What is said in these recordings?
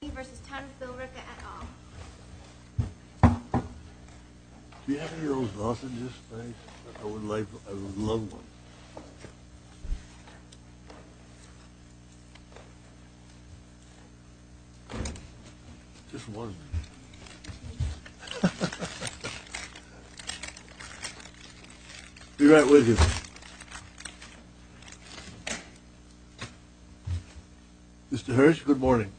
Do you have any of those sausages, thanks? I would love one. Just one. Be right with you. Mr. Hirsch, good morning.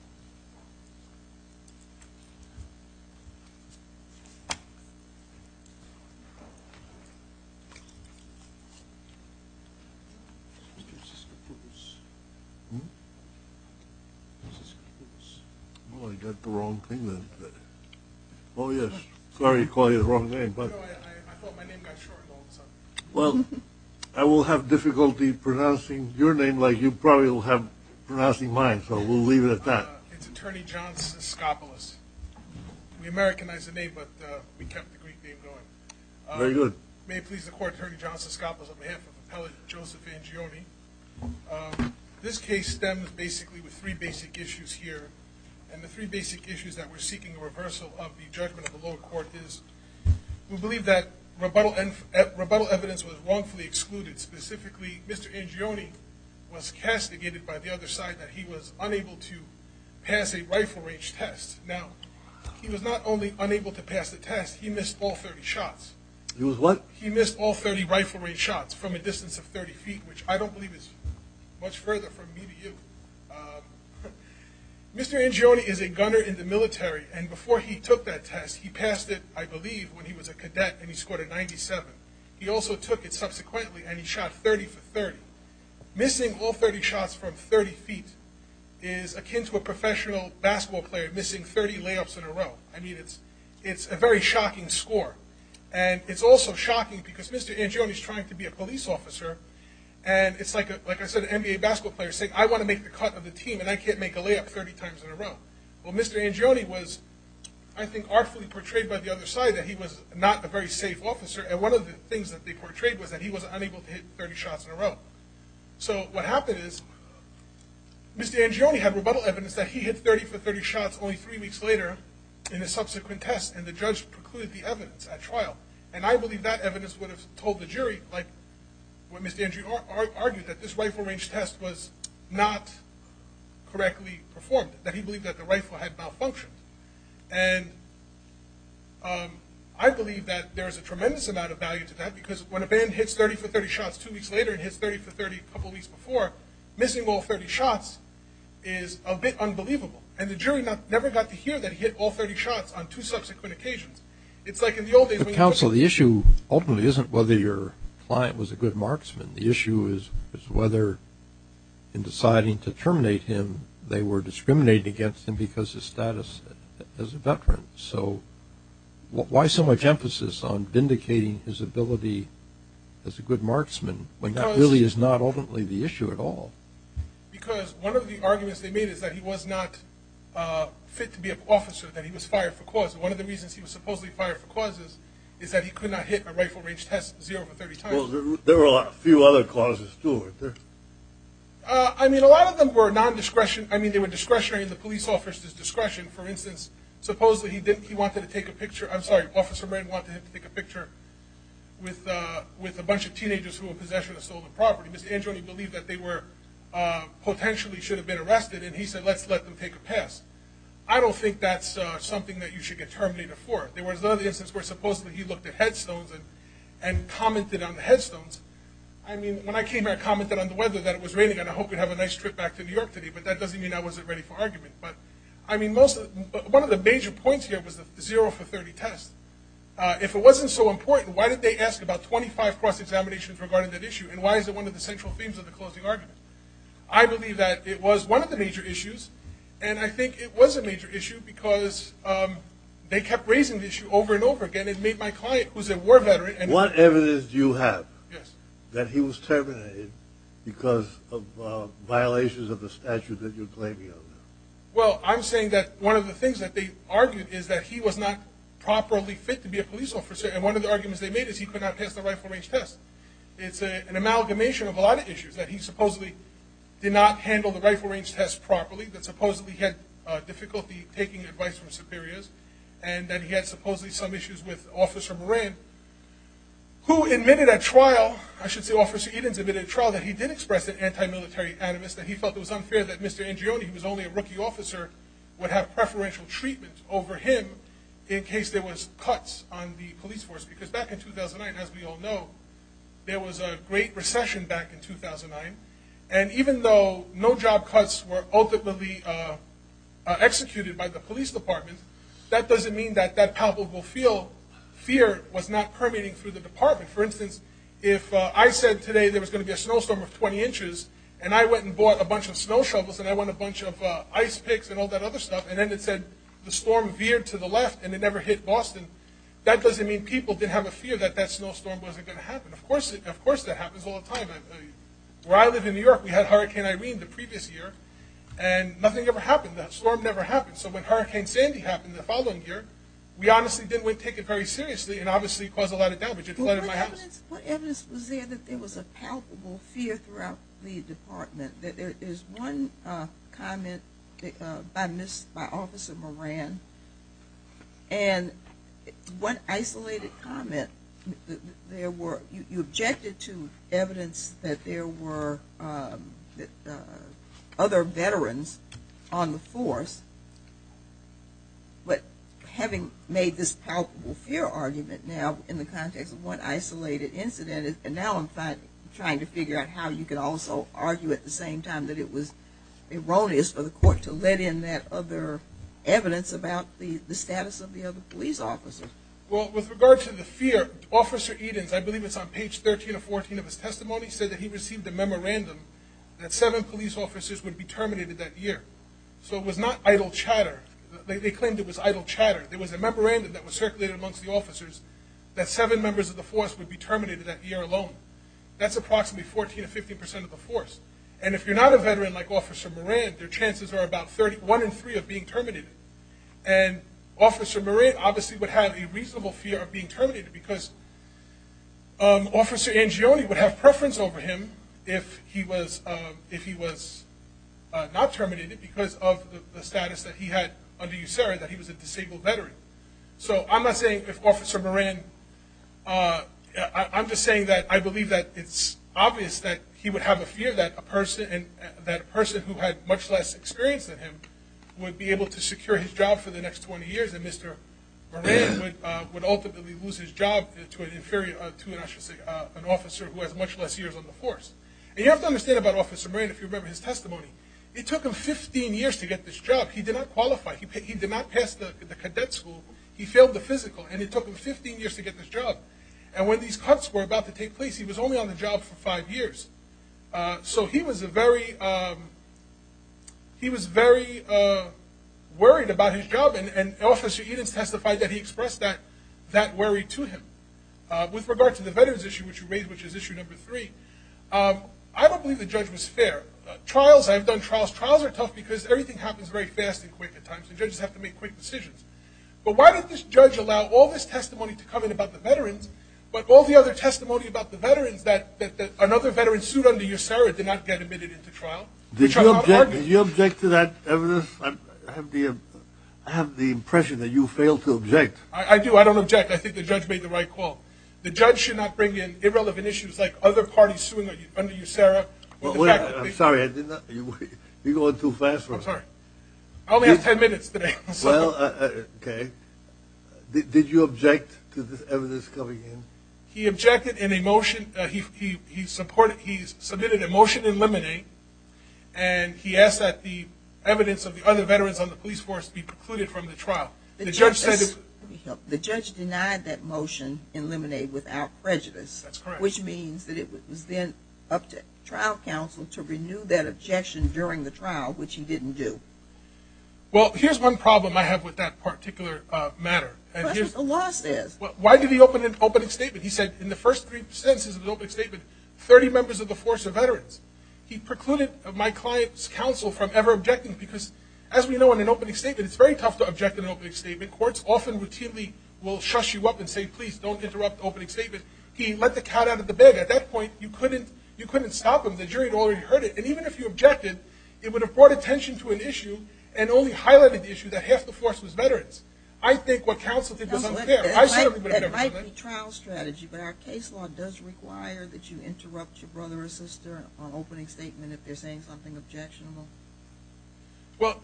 Oh, I got the wrong thing then. Oh yes, sorry to call you the wrong name. No, I thought my name got shortened all of a sudden. It's Attorney John Siskopoulos. We Americanized the name, but we kept the Greek name going. Very good. May it please the Court, Attorney John Siskopoulos, on behalf of Appellate Joseph Angioni. This case stems basically with three basic issues here, and the three basic issues that we're seeking a reversal of the judgment of the lower court is we believe that rebuttal evidence was wrongfully excluded. Specifically, Mr. Angioni was castigated by the other side that he was unable to pass a rifle range test. Now, he was not only unable to pass the test, he missed all 30 shots. He was what? He missed all 30 rifle range shots from a distance of 30 feet, which I don't believe is much further from me to you. Mr. Angioni is a gunner in the military, and before he took that test, he passed it, I believe, when he was a cadet, and he scored a 97. He also took it subsequently, and he shot 30 for 30. Missing all 30 shots from 30 feet is akin to a professional basketball player missing 30 layups in a row. I mean, it's a very shocking score, and it's also shocking because Mr. Angioni is trying to be a police officer, and it's like I said, an NBA basketball player saying, I want to make the cut of the team, and I can't make a layup 30 times in a row. Well, Mr. Angioni was, I think, artfully portrayed by the other side that he was not a very safe officer, and one of the things that they portrayed was that he was unable to hit 30 shots in a row. So, what happened is, Mr. Angioni had rebuttal evidence that he hit 30 for 30 shots only three weeks later in a subsequent test, and the judge precluded the evidence at trial, and I believe that evidence would have told the jury, like what Mr. Angioni argued, that this rifle range test was not correctly performed, that he believed that the rifle had malfunctioned, and I believe that there is a tremendous amount of value to that because when a band hits 30 for 30 shots two weeks later and hits 30 for 30 a couple weeks before, missing all 30 shots is a bit unbelievable, and the jury never got to hear that he hit all 30 shots on two subsequent occasions. But, counsel, the issue ultimately isn't whether your client was a good marksman. The issue is whether, in deciding to terminate him, they were discriminating against him because of his status as a veteran. So, why so much emphasis on vindicating his ability as a good marksman when that really is not ultimately the issue at all? Because one of the arguments they made is that he was not fit to be an officer, that he was fired for cause. And one of the reasons he was supposedly fired for causes is that he could not hit a rifle range test zero for 30 times. Well, there were a few other causes, too, weren't there? I mean, a lot of them were non-discretion. I mean, they were discretionary, and the police officer's discretion. For instance, supposedly, he wanted to take a picture – I'm sorry, Officer Wren wanted him to take a picture with a bunch of teenagers who were possession of stolen property. Mr. Angioni believed that they were – potentially should have been arrested, and he said, let's let them take a pass. I don't think that's something that you should get terminated for. There was another instance where supposedly he looked at headstones and commented on the headstones. I mean, when I came back, I commented on the weather, that it was raining, and I hoped we'd have a nice trip back to New York today. But that doesn't mean I wasn't ready for argument. But, I mean, most – one of the major points here was the zero for 30 test. If it wasn't so important, why did they ask about 25 cross-examinations regarding that issue? And why is it one of the central themes of the closing argument? I believe that it was one of the major issues, and I think it was a major issue because they kept raising the issue over and over again. It made my client, who's a war veteran – What evidence do you have that he was terminated because of violations of the statute that you're claiming? Well, I'm saying that one of the things that they argued is that he was not properly fit to be a police officer. And one of the arguments they made is he could not pass the rifle range test. It's an amalgamation of a lot of issues, that he supposedly did not handle the rifle range test properly, that supposedly he had difficulty taking advice from superiors, and that he had supposedly some issues with Officer Moran, who admitted at trial – I should say Officer Edens admitted at trial that he did express an anti-military animus, that he felt it was unfair that Mr. Ingioni, who was only a rookie officer, would have preferential treatment over him in case there was cuts on the police force. Because back in 2009, as we all know, there was a great recession back in 2009. And even though no job cuts were ultimately executed by the police department, that doesn't mean that that palpable fear was not permeating through the department. For instance, if I said today there was going to be a snowstorm of 20 inches, and I went and bought a bunch of snow shovels, and I went and bought a bunch of ice picks, and all that other stuff, and then it said the storm veered to the left and it never hit Boston, that doesn't mean people didn't have a fear that that snowstorm wasn't going to happen. Of course that happens all the time. Where I live in New York, we had Hurricane Irene the previous year, and nothing ever happened. That storm never happened. So when Hurricane Sandy happened the following year, we honestly didn't take it very seriously and obviously caused a lot of damage. It flooded my house. What evidence was there that there was a palpable fear throughout the department? There's one comment by Officer Moran, and one isolated comment, you objected to evidence that there were other veterans on the force, but having made this palpable fear argument now in the context of one isolated incident, and now I'm trying to figure out how you could also argue at the same time that it was erroneous for the court to let in that other evidence about the status of the other police officers. Well, with regard to the fear, Officer Edens, I believe it's on page 13 or 14 of his testimony, said that he received a memorandum that seven police officers would be terminated that year. So it was not idle chatter. They claimed it was idle chatter. That seven members of the force would be terminated that year alone. That's approximately 14 to 15 percent of the force. And if you're not a veteran like Officer Moran, your chances are about one in three of being terminated. And Officer Moran obviously would have a reasonable fear of being terminated because Officer Angione would have preference over him if he was not terminated because of the status that he had under USARA, that he was a disabled veteran. So I'm not saying if Officer Moran, I'm just saying that I believe that it's obvious that he would have a fear that a person who had much less experience than him would be able to secure his job for the next 20 years and Mr. Moran would ultimately lose his job to an officer who has much less years on the force. And you have to understand about Officer Moran, if you remember his testimony, it took him 15 years to get this job. He did not qualify. He did not pass the cadet school. He failed the physical, and it took him 15 years to get this job. And when these cuts were about to take place, he was only on the job for five years. So he was very worried about his job, and Officer Edens testified that he expressed that worry to him. With regard to the veterans issue, which you raised, which is issue number three, I don't believe the judge was fair. Trials, I've done trials. Trials are tough because everything happens very fast and quick at times, and judges have to make quick decisions. But why did this judge allow all this testimony to come in about the veterans, but all the other testimony about the veterans that another veteran sued under USERRA did not get admitted into trial? Did you object to that evidence? I have the impression that you fail to object. I do. I don't object. I think the judge made the right call. The judge should not bring in irrelevant issues like other parties suing under USERRA. I'm sorry. You're going too fast for me. I'm sorry. I only have ten minutes today. Well, okay. Did you object to this evidence coming in? He objected in a motion. He submitted a motion to eliminate, and he asked that the evidence of the other veterans on the police force be precluded from the trial. The judge denied that motion, eliminate without prejudice. That's correct. Which means that it was then up to trial counsel to renew that objection during the trial, which he didn't do. Well, here's one problem I have with that particular matter. Question. The law says. Why did he open an opening statement? He said in the first three sentences of the opening statement, 30 members of the force are veterans. He precluded my client's counsel from ever objecting because, as we know, in an opening statement, it's very tough to object in an opening statement. Courts often routinely will shush you up and say, please, don't interrupt the opening statement. He let the cat out of the bag. At that point, you couldn't stop him. The jury had already heard it. And even if you objected, it would have brought attention to an issue and only highlighted the issue that half the force was veterans. I think what counsel did was unfair. That might be trial strategy, but our case law does require that you interrupt your brother or sister on opening statement if they're saying something objectionable. Well,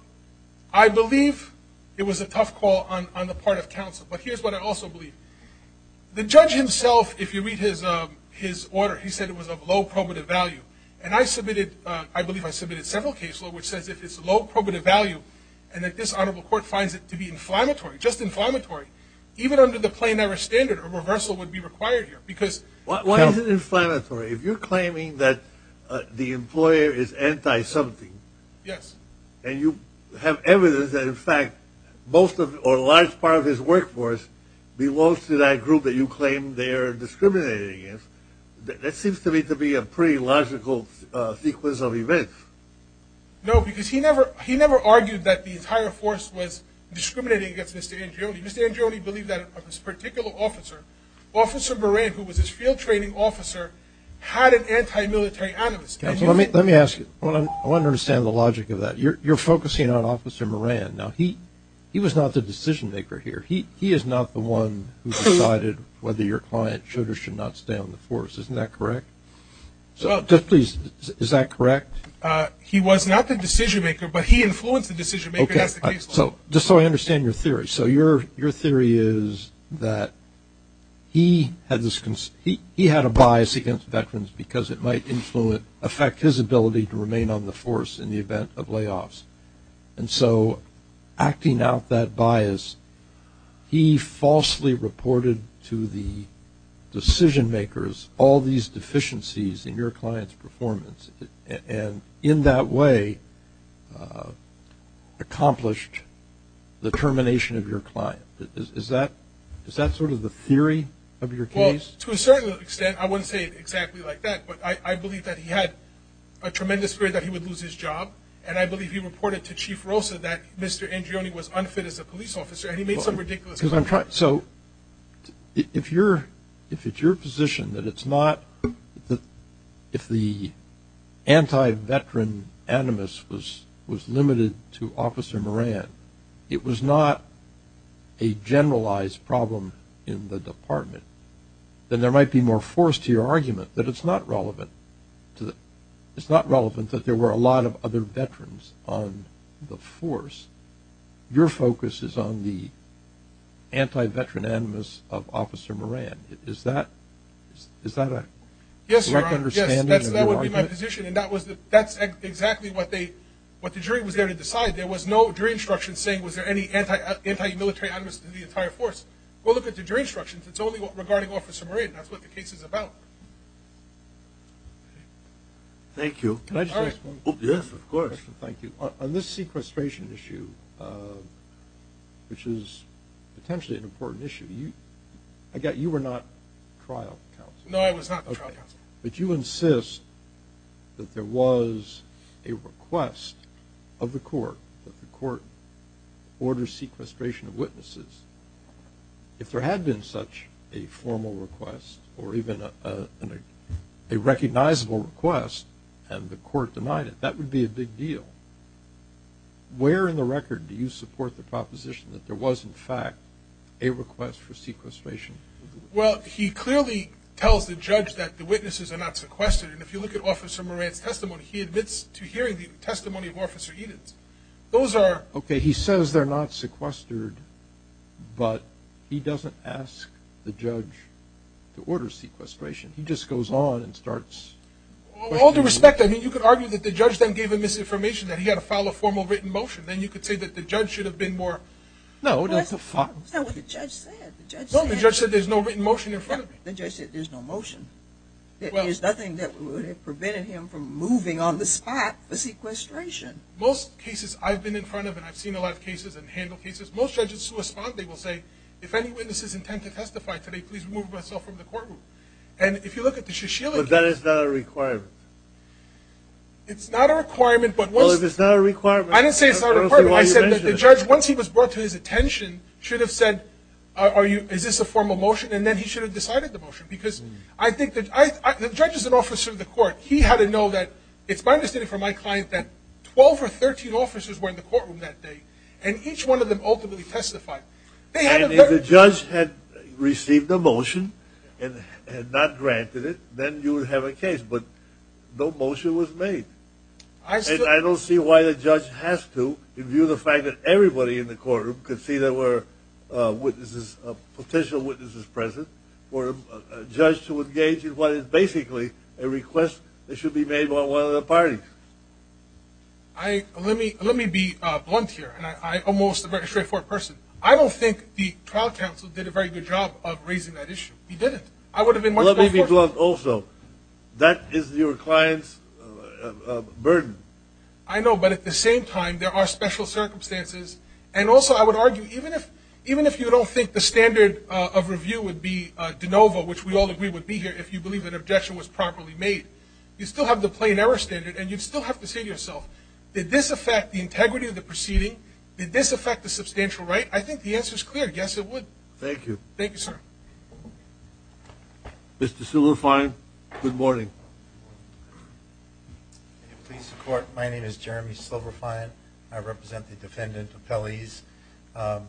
I believe it was a tough call on the part of counsel, but here's what I also believe. The judge himself, if you read his order, he said it was of low probative value. And I submitted, I believe I submitted several cases, which says that it's low probative value and that this honorable court finds it to be inflammatory, just inflammatory. Even under the plenary standard, a reversal would be required here. Why is it inflammatory? If you're claiming that the employer is anti-something and you have evidence that, in fact, most of or a large part of his workforce belongs to that group that you claim they're discriminating against, that seems to me to be a pretty logical sequence of events. No, because he never argued that the entire force was discriminating against Mr. Angiolini. Mr. Angiolini believed that this particular officer, Officer Moran, who was his field training officer, had an anti-military animus. Counsel, let me ask you. I want to understand the logic of that. You're focusing on Officer Moran. Now, he was not the decision-maker here. He is not the one who decided whether your client should or should not stay on the force. Isn't that correct? Just please, is that correct? He was not the decision-maker, but he influenced the decision-maker. That's the case law. Just so I understand your theory. So your theory is that he had a bias against veterans because it might affect his ability to remain on the force in the event of layoffs. And so acting out that bias, he falsely reported to the decision-makers all these deficiencies in your client's performance and in that way accomplished the termination of your client. Is that sort of the theory of your case? Well, to a certain extent, I wouldn't say it exactly like that, but I believe that he had a tremendous fear that he would lose his job, and I believe he reported to Chief Rosa that Mr. Angione was unfit as a police officer, and he made some ridiculous comments. So if it's your position that it's not – if the anti-veteran animus was limited to Officer Moran, it was not a generalized problem in the department, then there might be more force to your argument that it's not relevant. It's not relevant that there were a lot of other veterans on the force. Your focus is on the anti-veteran animus of Officer Moran. Is that a correct understanding of your argument? Yes, that would be my position, and that's exactly what the jury was there to decide. There was no jury instruction saying was there any anti-military animus to the entire force. Go look at the jury instructions. It's only regarding Officer Moran. That's what the case is about. Thank you. Can I just ask one question? Yes, of course. Thank you. On this sequestration issue, which is potentially an important issue, I get you were not trial counsel. No, I was not trial counsel. Okay. But you insist that there was a request of the court that the court order sequestration of witnesses. If there had been such a formal request or even a recognizable request and the court denied it, that would be a big deal. Where in the record do you support the proposition that there was, in fact, a request for sequestration? Well, he clearly tells the judge that the witnesses are not sequestered, and if you look at Officer Moran's testimony, he admits to hearing the testimony of Officer Edens. Okay, he says they're not sequestered, but he doesn't ask the judge to order sequestration. He just goes on and starts questioning. Well, with all due respect, I mean you could argue that the judge then gave him this information, that he had to file a formal written motion. Then you could say that the judge should have been more. No. That's not what the judge said. No, the judge said there's no written motion in front of him. The judge said there's no motion. There is nothing that would have prevented him from moving on the spot for sequestration. Most cases I've been in front of, and I've seen a lot of cases and handled cases, most judges who respond, they will say, if any witnesses intend to testify today, please remove myself from the courtroom. And if you look at the Shishelagh case. But that is not a requirement. It's not a requirement, but once. Well, if it's not a requirement. I didn't say it's not a requirement. I said that the judge, once he was brought to his attention, should have said, is this a formal motion? Because I think that the judge is an officer of the court. He had to know that, it's my understanding from my client, that 12 or 13 officers were in the courtroom that day, and each one of them ultimately testified. And if the judge had received a motion and had not granted it, then you would have a case. But no motion was made. And I don't see why the judge has to, in view of the fact that everybody in the courtroom could see there were witnesses, potential witnesses present, for a judge to engage in what is basically a request that should be made by one of the parties. Let me be blunt here. I'm almost a very straightforward person. I don't think the trial counsel did a very good job of raising that issue. He didn't. I would have been much more forthcoming. Let me be blunt also. That is your client's burden. I know, but at the same time, there are special circumstances. And also, I would argue, even if you don't think the standard of review would be de novo, which we all agree would be here if you believe an objection was properly made, you still have the plain error standard, and you still have to say to yourself, did this affect the integrity of the proceeding? Did this affect the substantial right? I think the answer is clear. Yes, it would. Thank you. Thank you, sir. Mr. Silverfein, good morning. Good morning. May it please the Court. My name is Jeremy Silverfein. I represent the defendant, appellees. I'll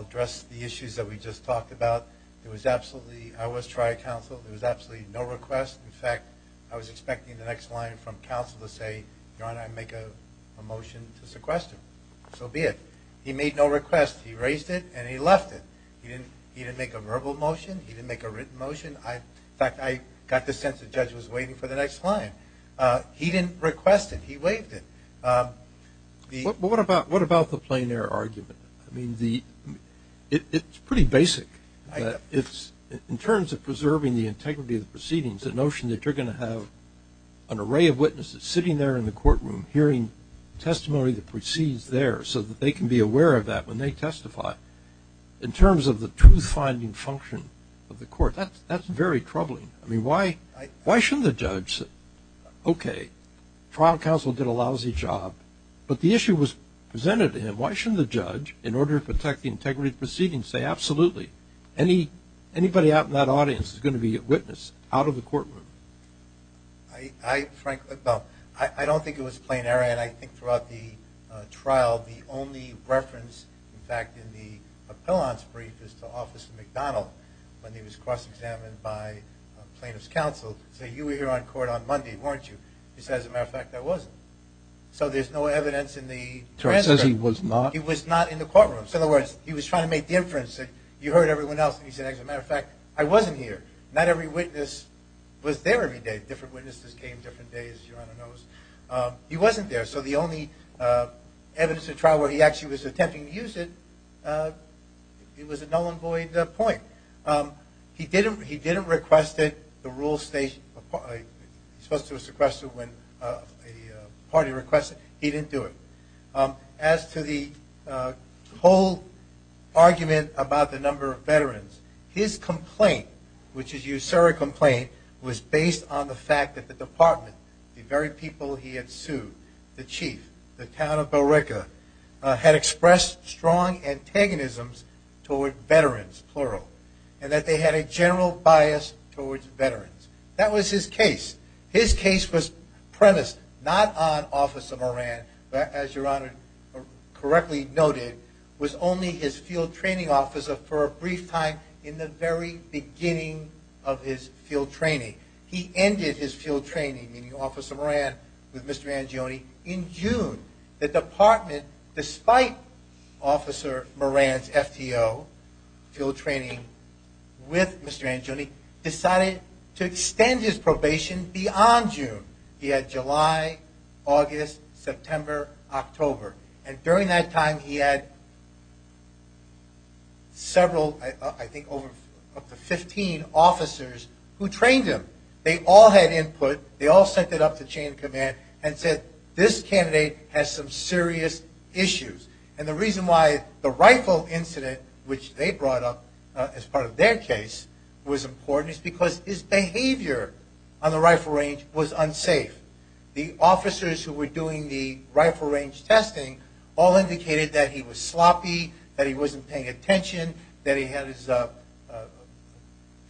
address the issues that we just talked about. I was trial counsel. There was absolutely no request. In fact, I was expecting the next line from counsel to say, Your Honor, I make a motion to sequester. So be it. He made no request. He raised it, and he left it. He didn't make a verbal motion. He didn't make a written motion. In fact, I got the sense the judge was waiting for the next line. He didn't request it. He waived it. What about the plein air argument? It's pretty basic. In terms of preserving the integrity of the proceedings, the notion that you're going to have an array of witnesses sitting there in the courtroom hearing testimony that proceeds there so that they can be aware of that when they testify, in terms of the truth-finding function of the court, that's very troubling. I mean, why shouldn't the judge say, Okay, trial counsel did a lousy job, but the issue was presented to him. Why shouldn't the judge, in order to protect the integrity of the proceedings, say, Absolutely. Anybody out in that audience is going to be a witness out of the courtroom. I don't think it was plein air, and I think throughout the trial the only reference, in fact, in the appellant's brief is to Officer McDonald when he was cross-examined by plaintiff's counsel. He said, You were here on court on Monday, weren't you? He said, As a matter of fact, I wasn't. So there's no evidence in the transcript. So he says he was not? He was not in the courtroom. In other words, he was trying to make the inference that you heard everyone else, and he said, As a matter of fact, I wasn't here. Not every witness was there every day. Different witnesses came different days, Your Honor knows. He wasn't there. So the only evidence in the trial where he actually was attempting to use it, it was a null and void point. He didn't request it. He was supposed to have requested it when a party requested it. He didn't do it. As to the whole argument about the number of veterans, his complaint, which is a USERRA complaint, was based on the fact that the department, the very people he had sued, the chief, the town of Bell Rica, had expressed strong antagonisms toward veterans, plural, and that they had a general bias towards veterans. That was his case. His case was premised not on Officer Moran, as Your Honor correctly noted, was only his field training officer for a brief time in the very beginning of his field training. He ended his field training, meaning Officer Moran, with Mr. Angione in June. The department, despite Officer Moran's FTO field training with Mr. Angione, decided to extend his probation beyond June. He had July, August, September, October. And during that time, he had several, I think up to 15 officers who trained him. They all had input. They all sent it up to chain of command and said, this candidate has some serious issues. And the reason why the rifle incident, which they brought up as part of their case, was important is because his behavior on the rifle range was unsafe. The officers who were doing the rifle range testing all indicated that he was sloppy, that he wasn't paying attention, that he had his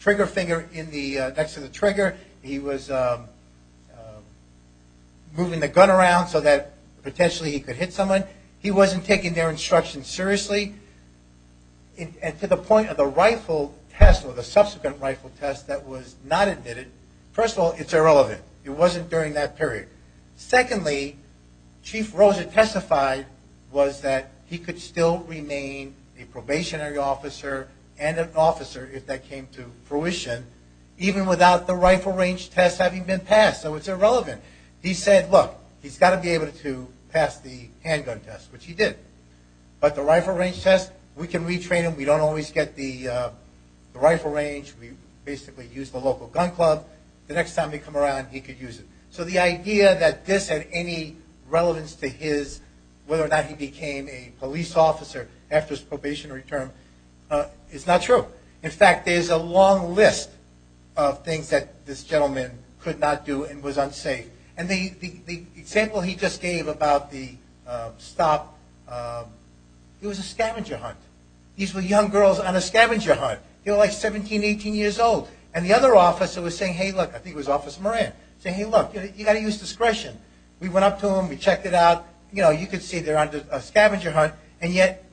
trigger finger next to the trigger. He was moving the gun around so that potentially he could hit someone. He wasn't taking their instructions seriously. And to the point of the rifle test or the subsequent rifle test that was not admitted, first of all, it's irrelevant. It wasn't during that period. Secondly, Chief Rosa testified was that he could still remain a probationary officer and an officer if that came to fruition, even without the rifle range test having been passed. So it's irrelevant. He said, look, he's got to be able to pass the handgun test, which he did. But the rifle range test, we can retrain him. We don't always get the rifle range. We basically use the local gun club. The next time they come around, he could use it. So the idea that this had any relevance to whether or not he became a police officer after his probationary term is not true. In fact, there's a long list of things that this gentleman could not do and was unsafe. And the example he just gave about the stop, it was a scavenger hunt. These were young girls on a scavenger hunt. They were like 17, 18 years old. And the other officer was saying, hey, look, I think it was Officer Moran, saying, hey, look, you've got to use discretion. We went up to him. We checked it out. You know, you could see they're on a scavenger hunt. And yet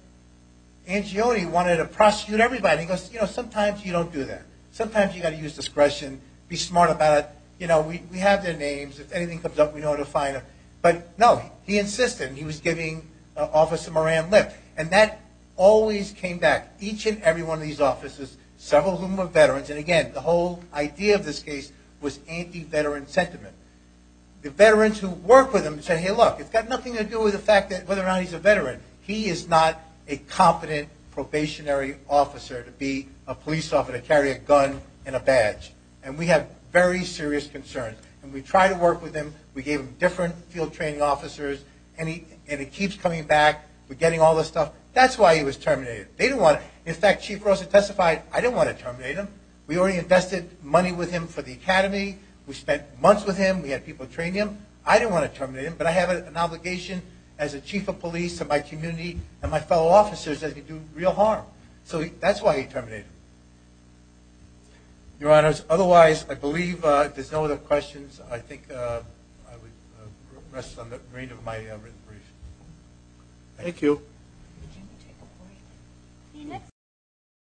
Angiolini wanted to prosecute everybody. He goes, you know, sometimes you don't do that. Sometimes you've got to use discretion, be smart about it. You know, we have their names. If anything comes up, we know where to find them. But, no, he insisted. He was giving Officer Moran lip. And that always came back, each and every one of these officers, several of whom were veterans. And, again, the whole idea of this case was anti-veteran sentiment. The veterans who worked with him said, hey, look, it's got nothing to do with the fact that whether or not he's a veteran. He is not a competent probationary officer to be a police officer to carry a gun and a badge. And we have very serious concerns. And we tried to work with him. We gave him different field training officers. And it keeps coming back. We're getting all this stuff. That's why he was terminated. In fact, Chief Rosa testified, I didn't want to terminate him. We already invested money with him for the academy. We spent months with him. We had people train him. I didn't want to terminate him, but I have an obligation as a chief of police to my community and my fellow officers that he do real harm. So that's why he terminated him. Your Honors, otherwise, I believe there's no other questions. I think I would rest on the reign of my written brief. Thank you. Thank you, Jacob. See you next time.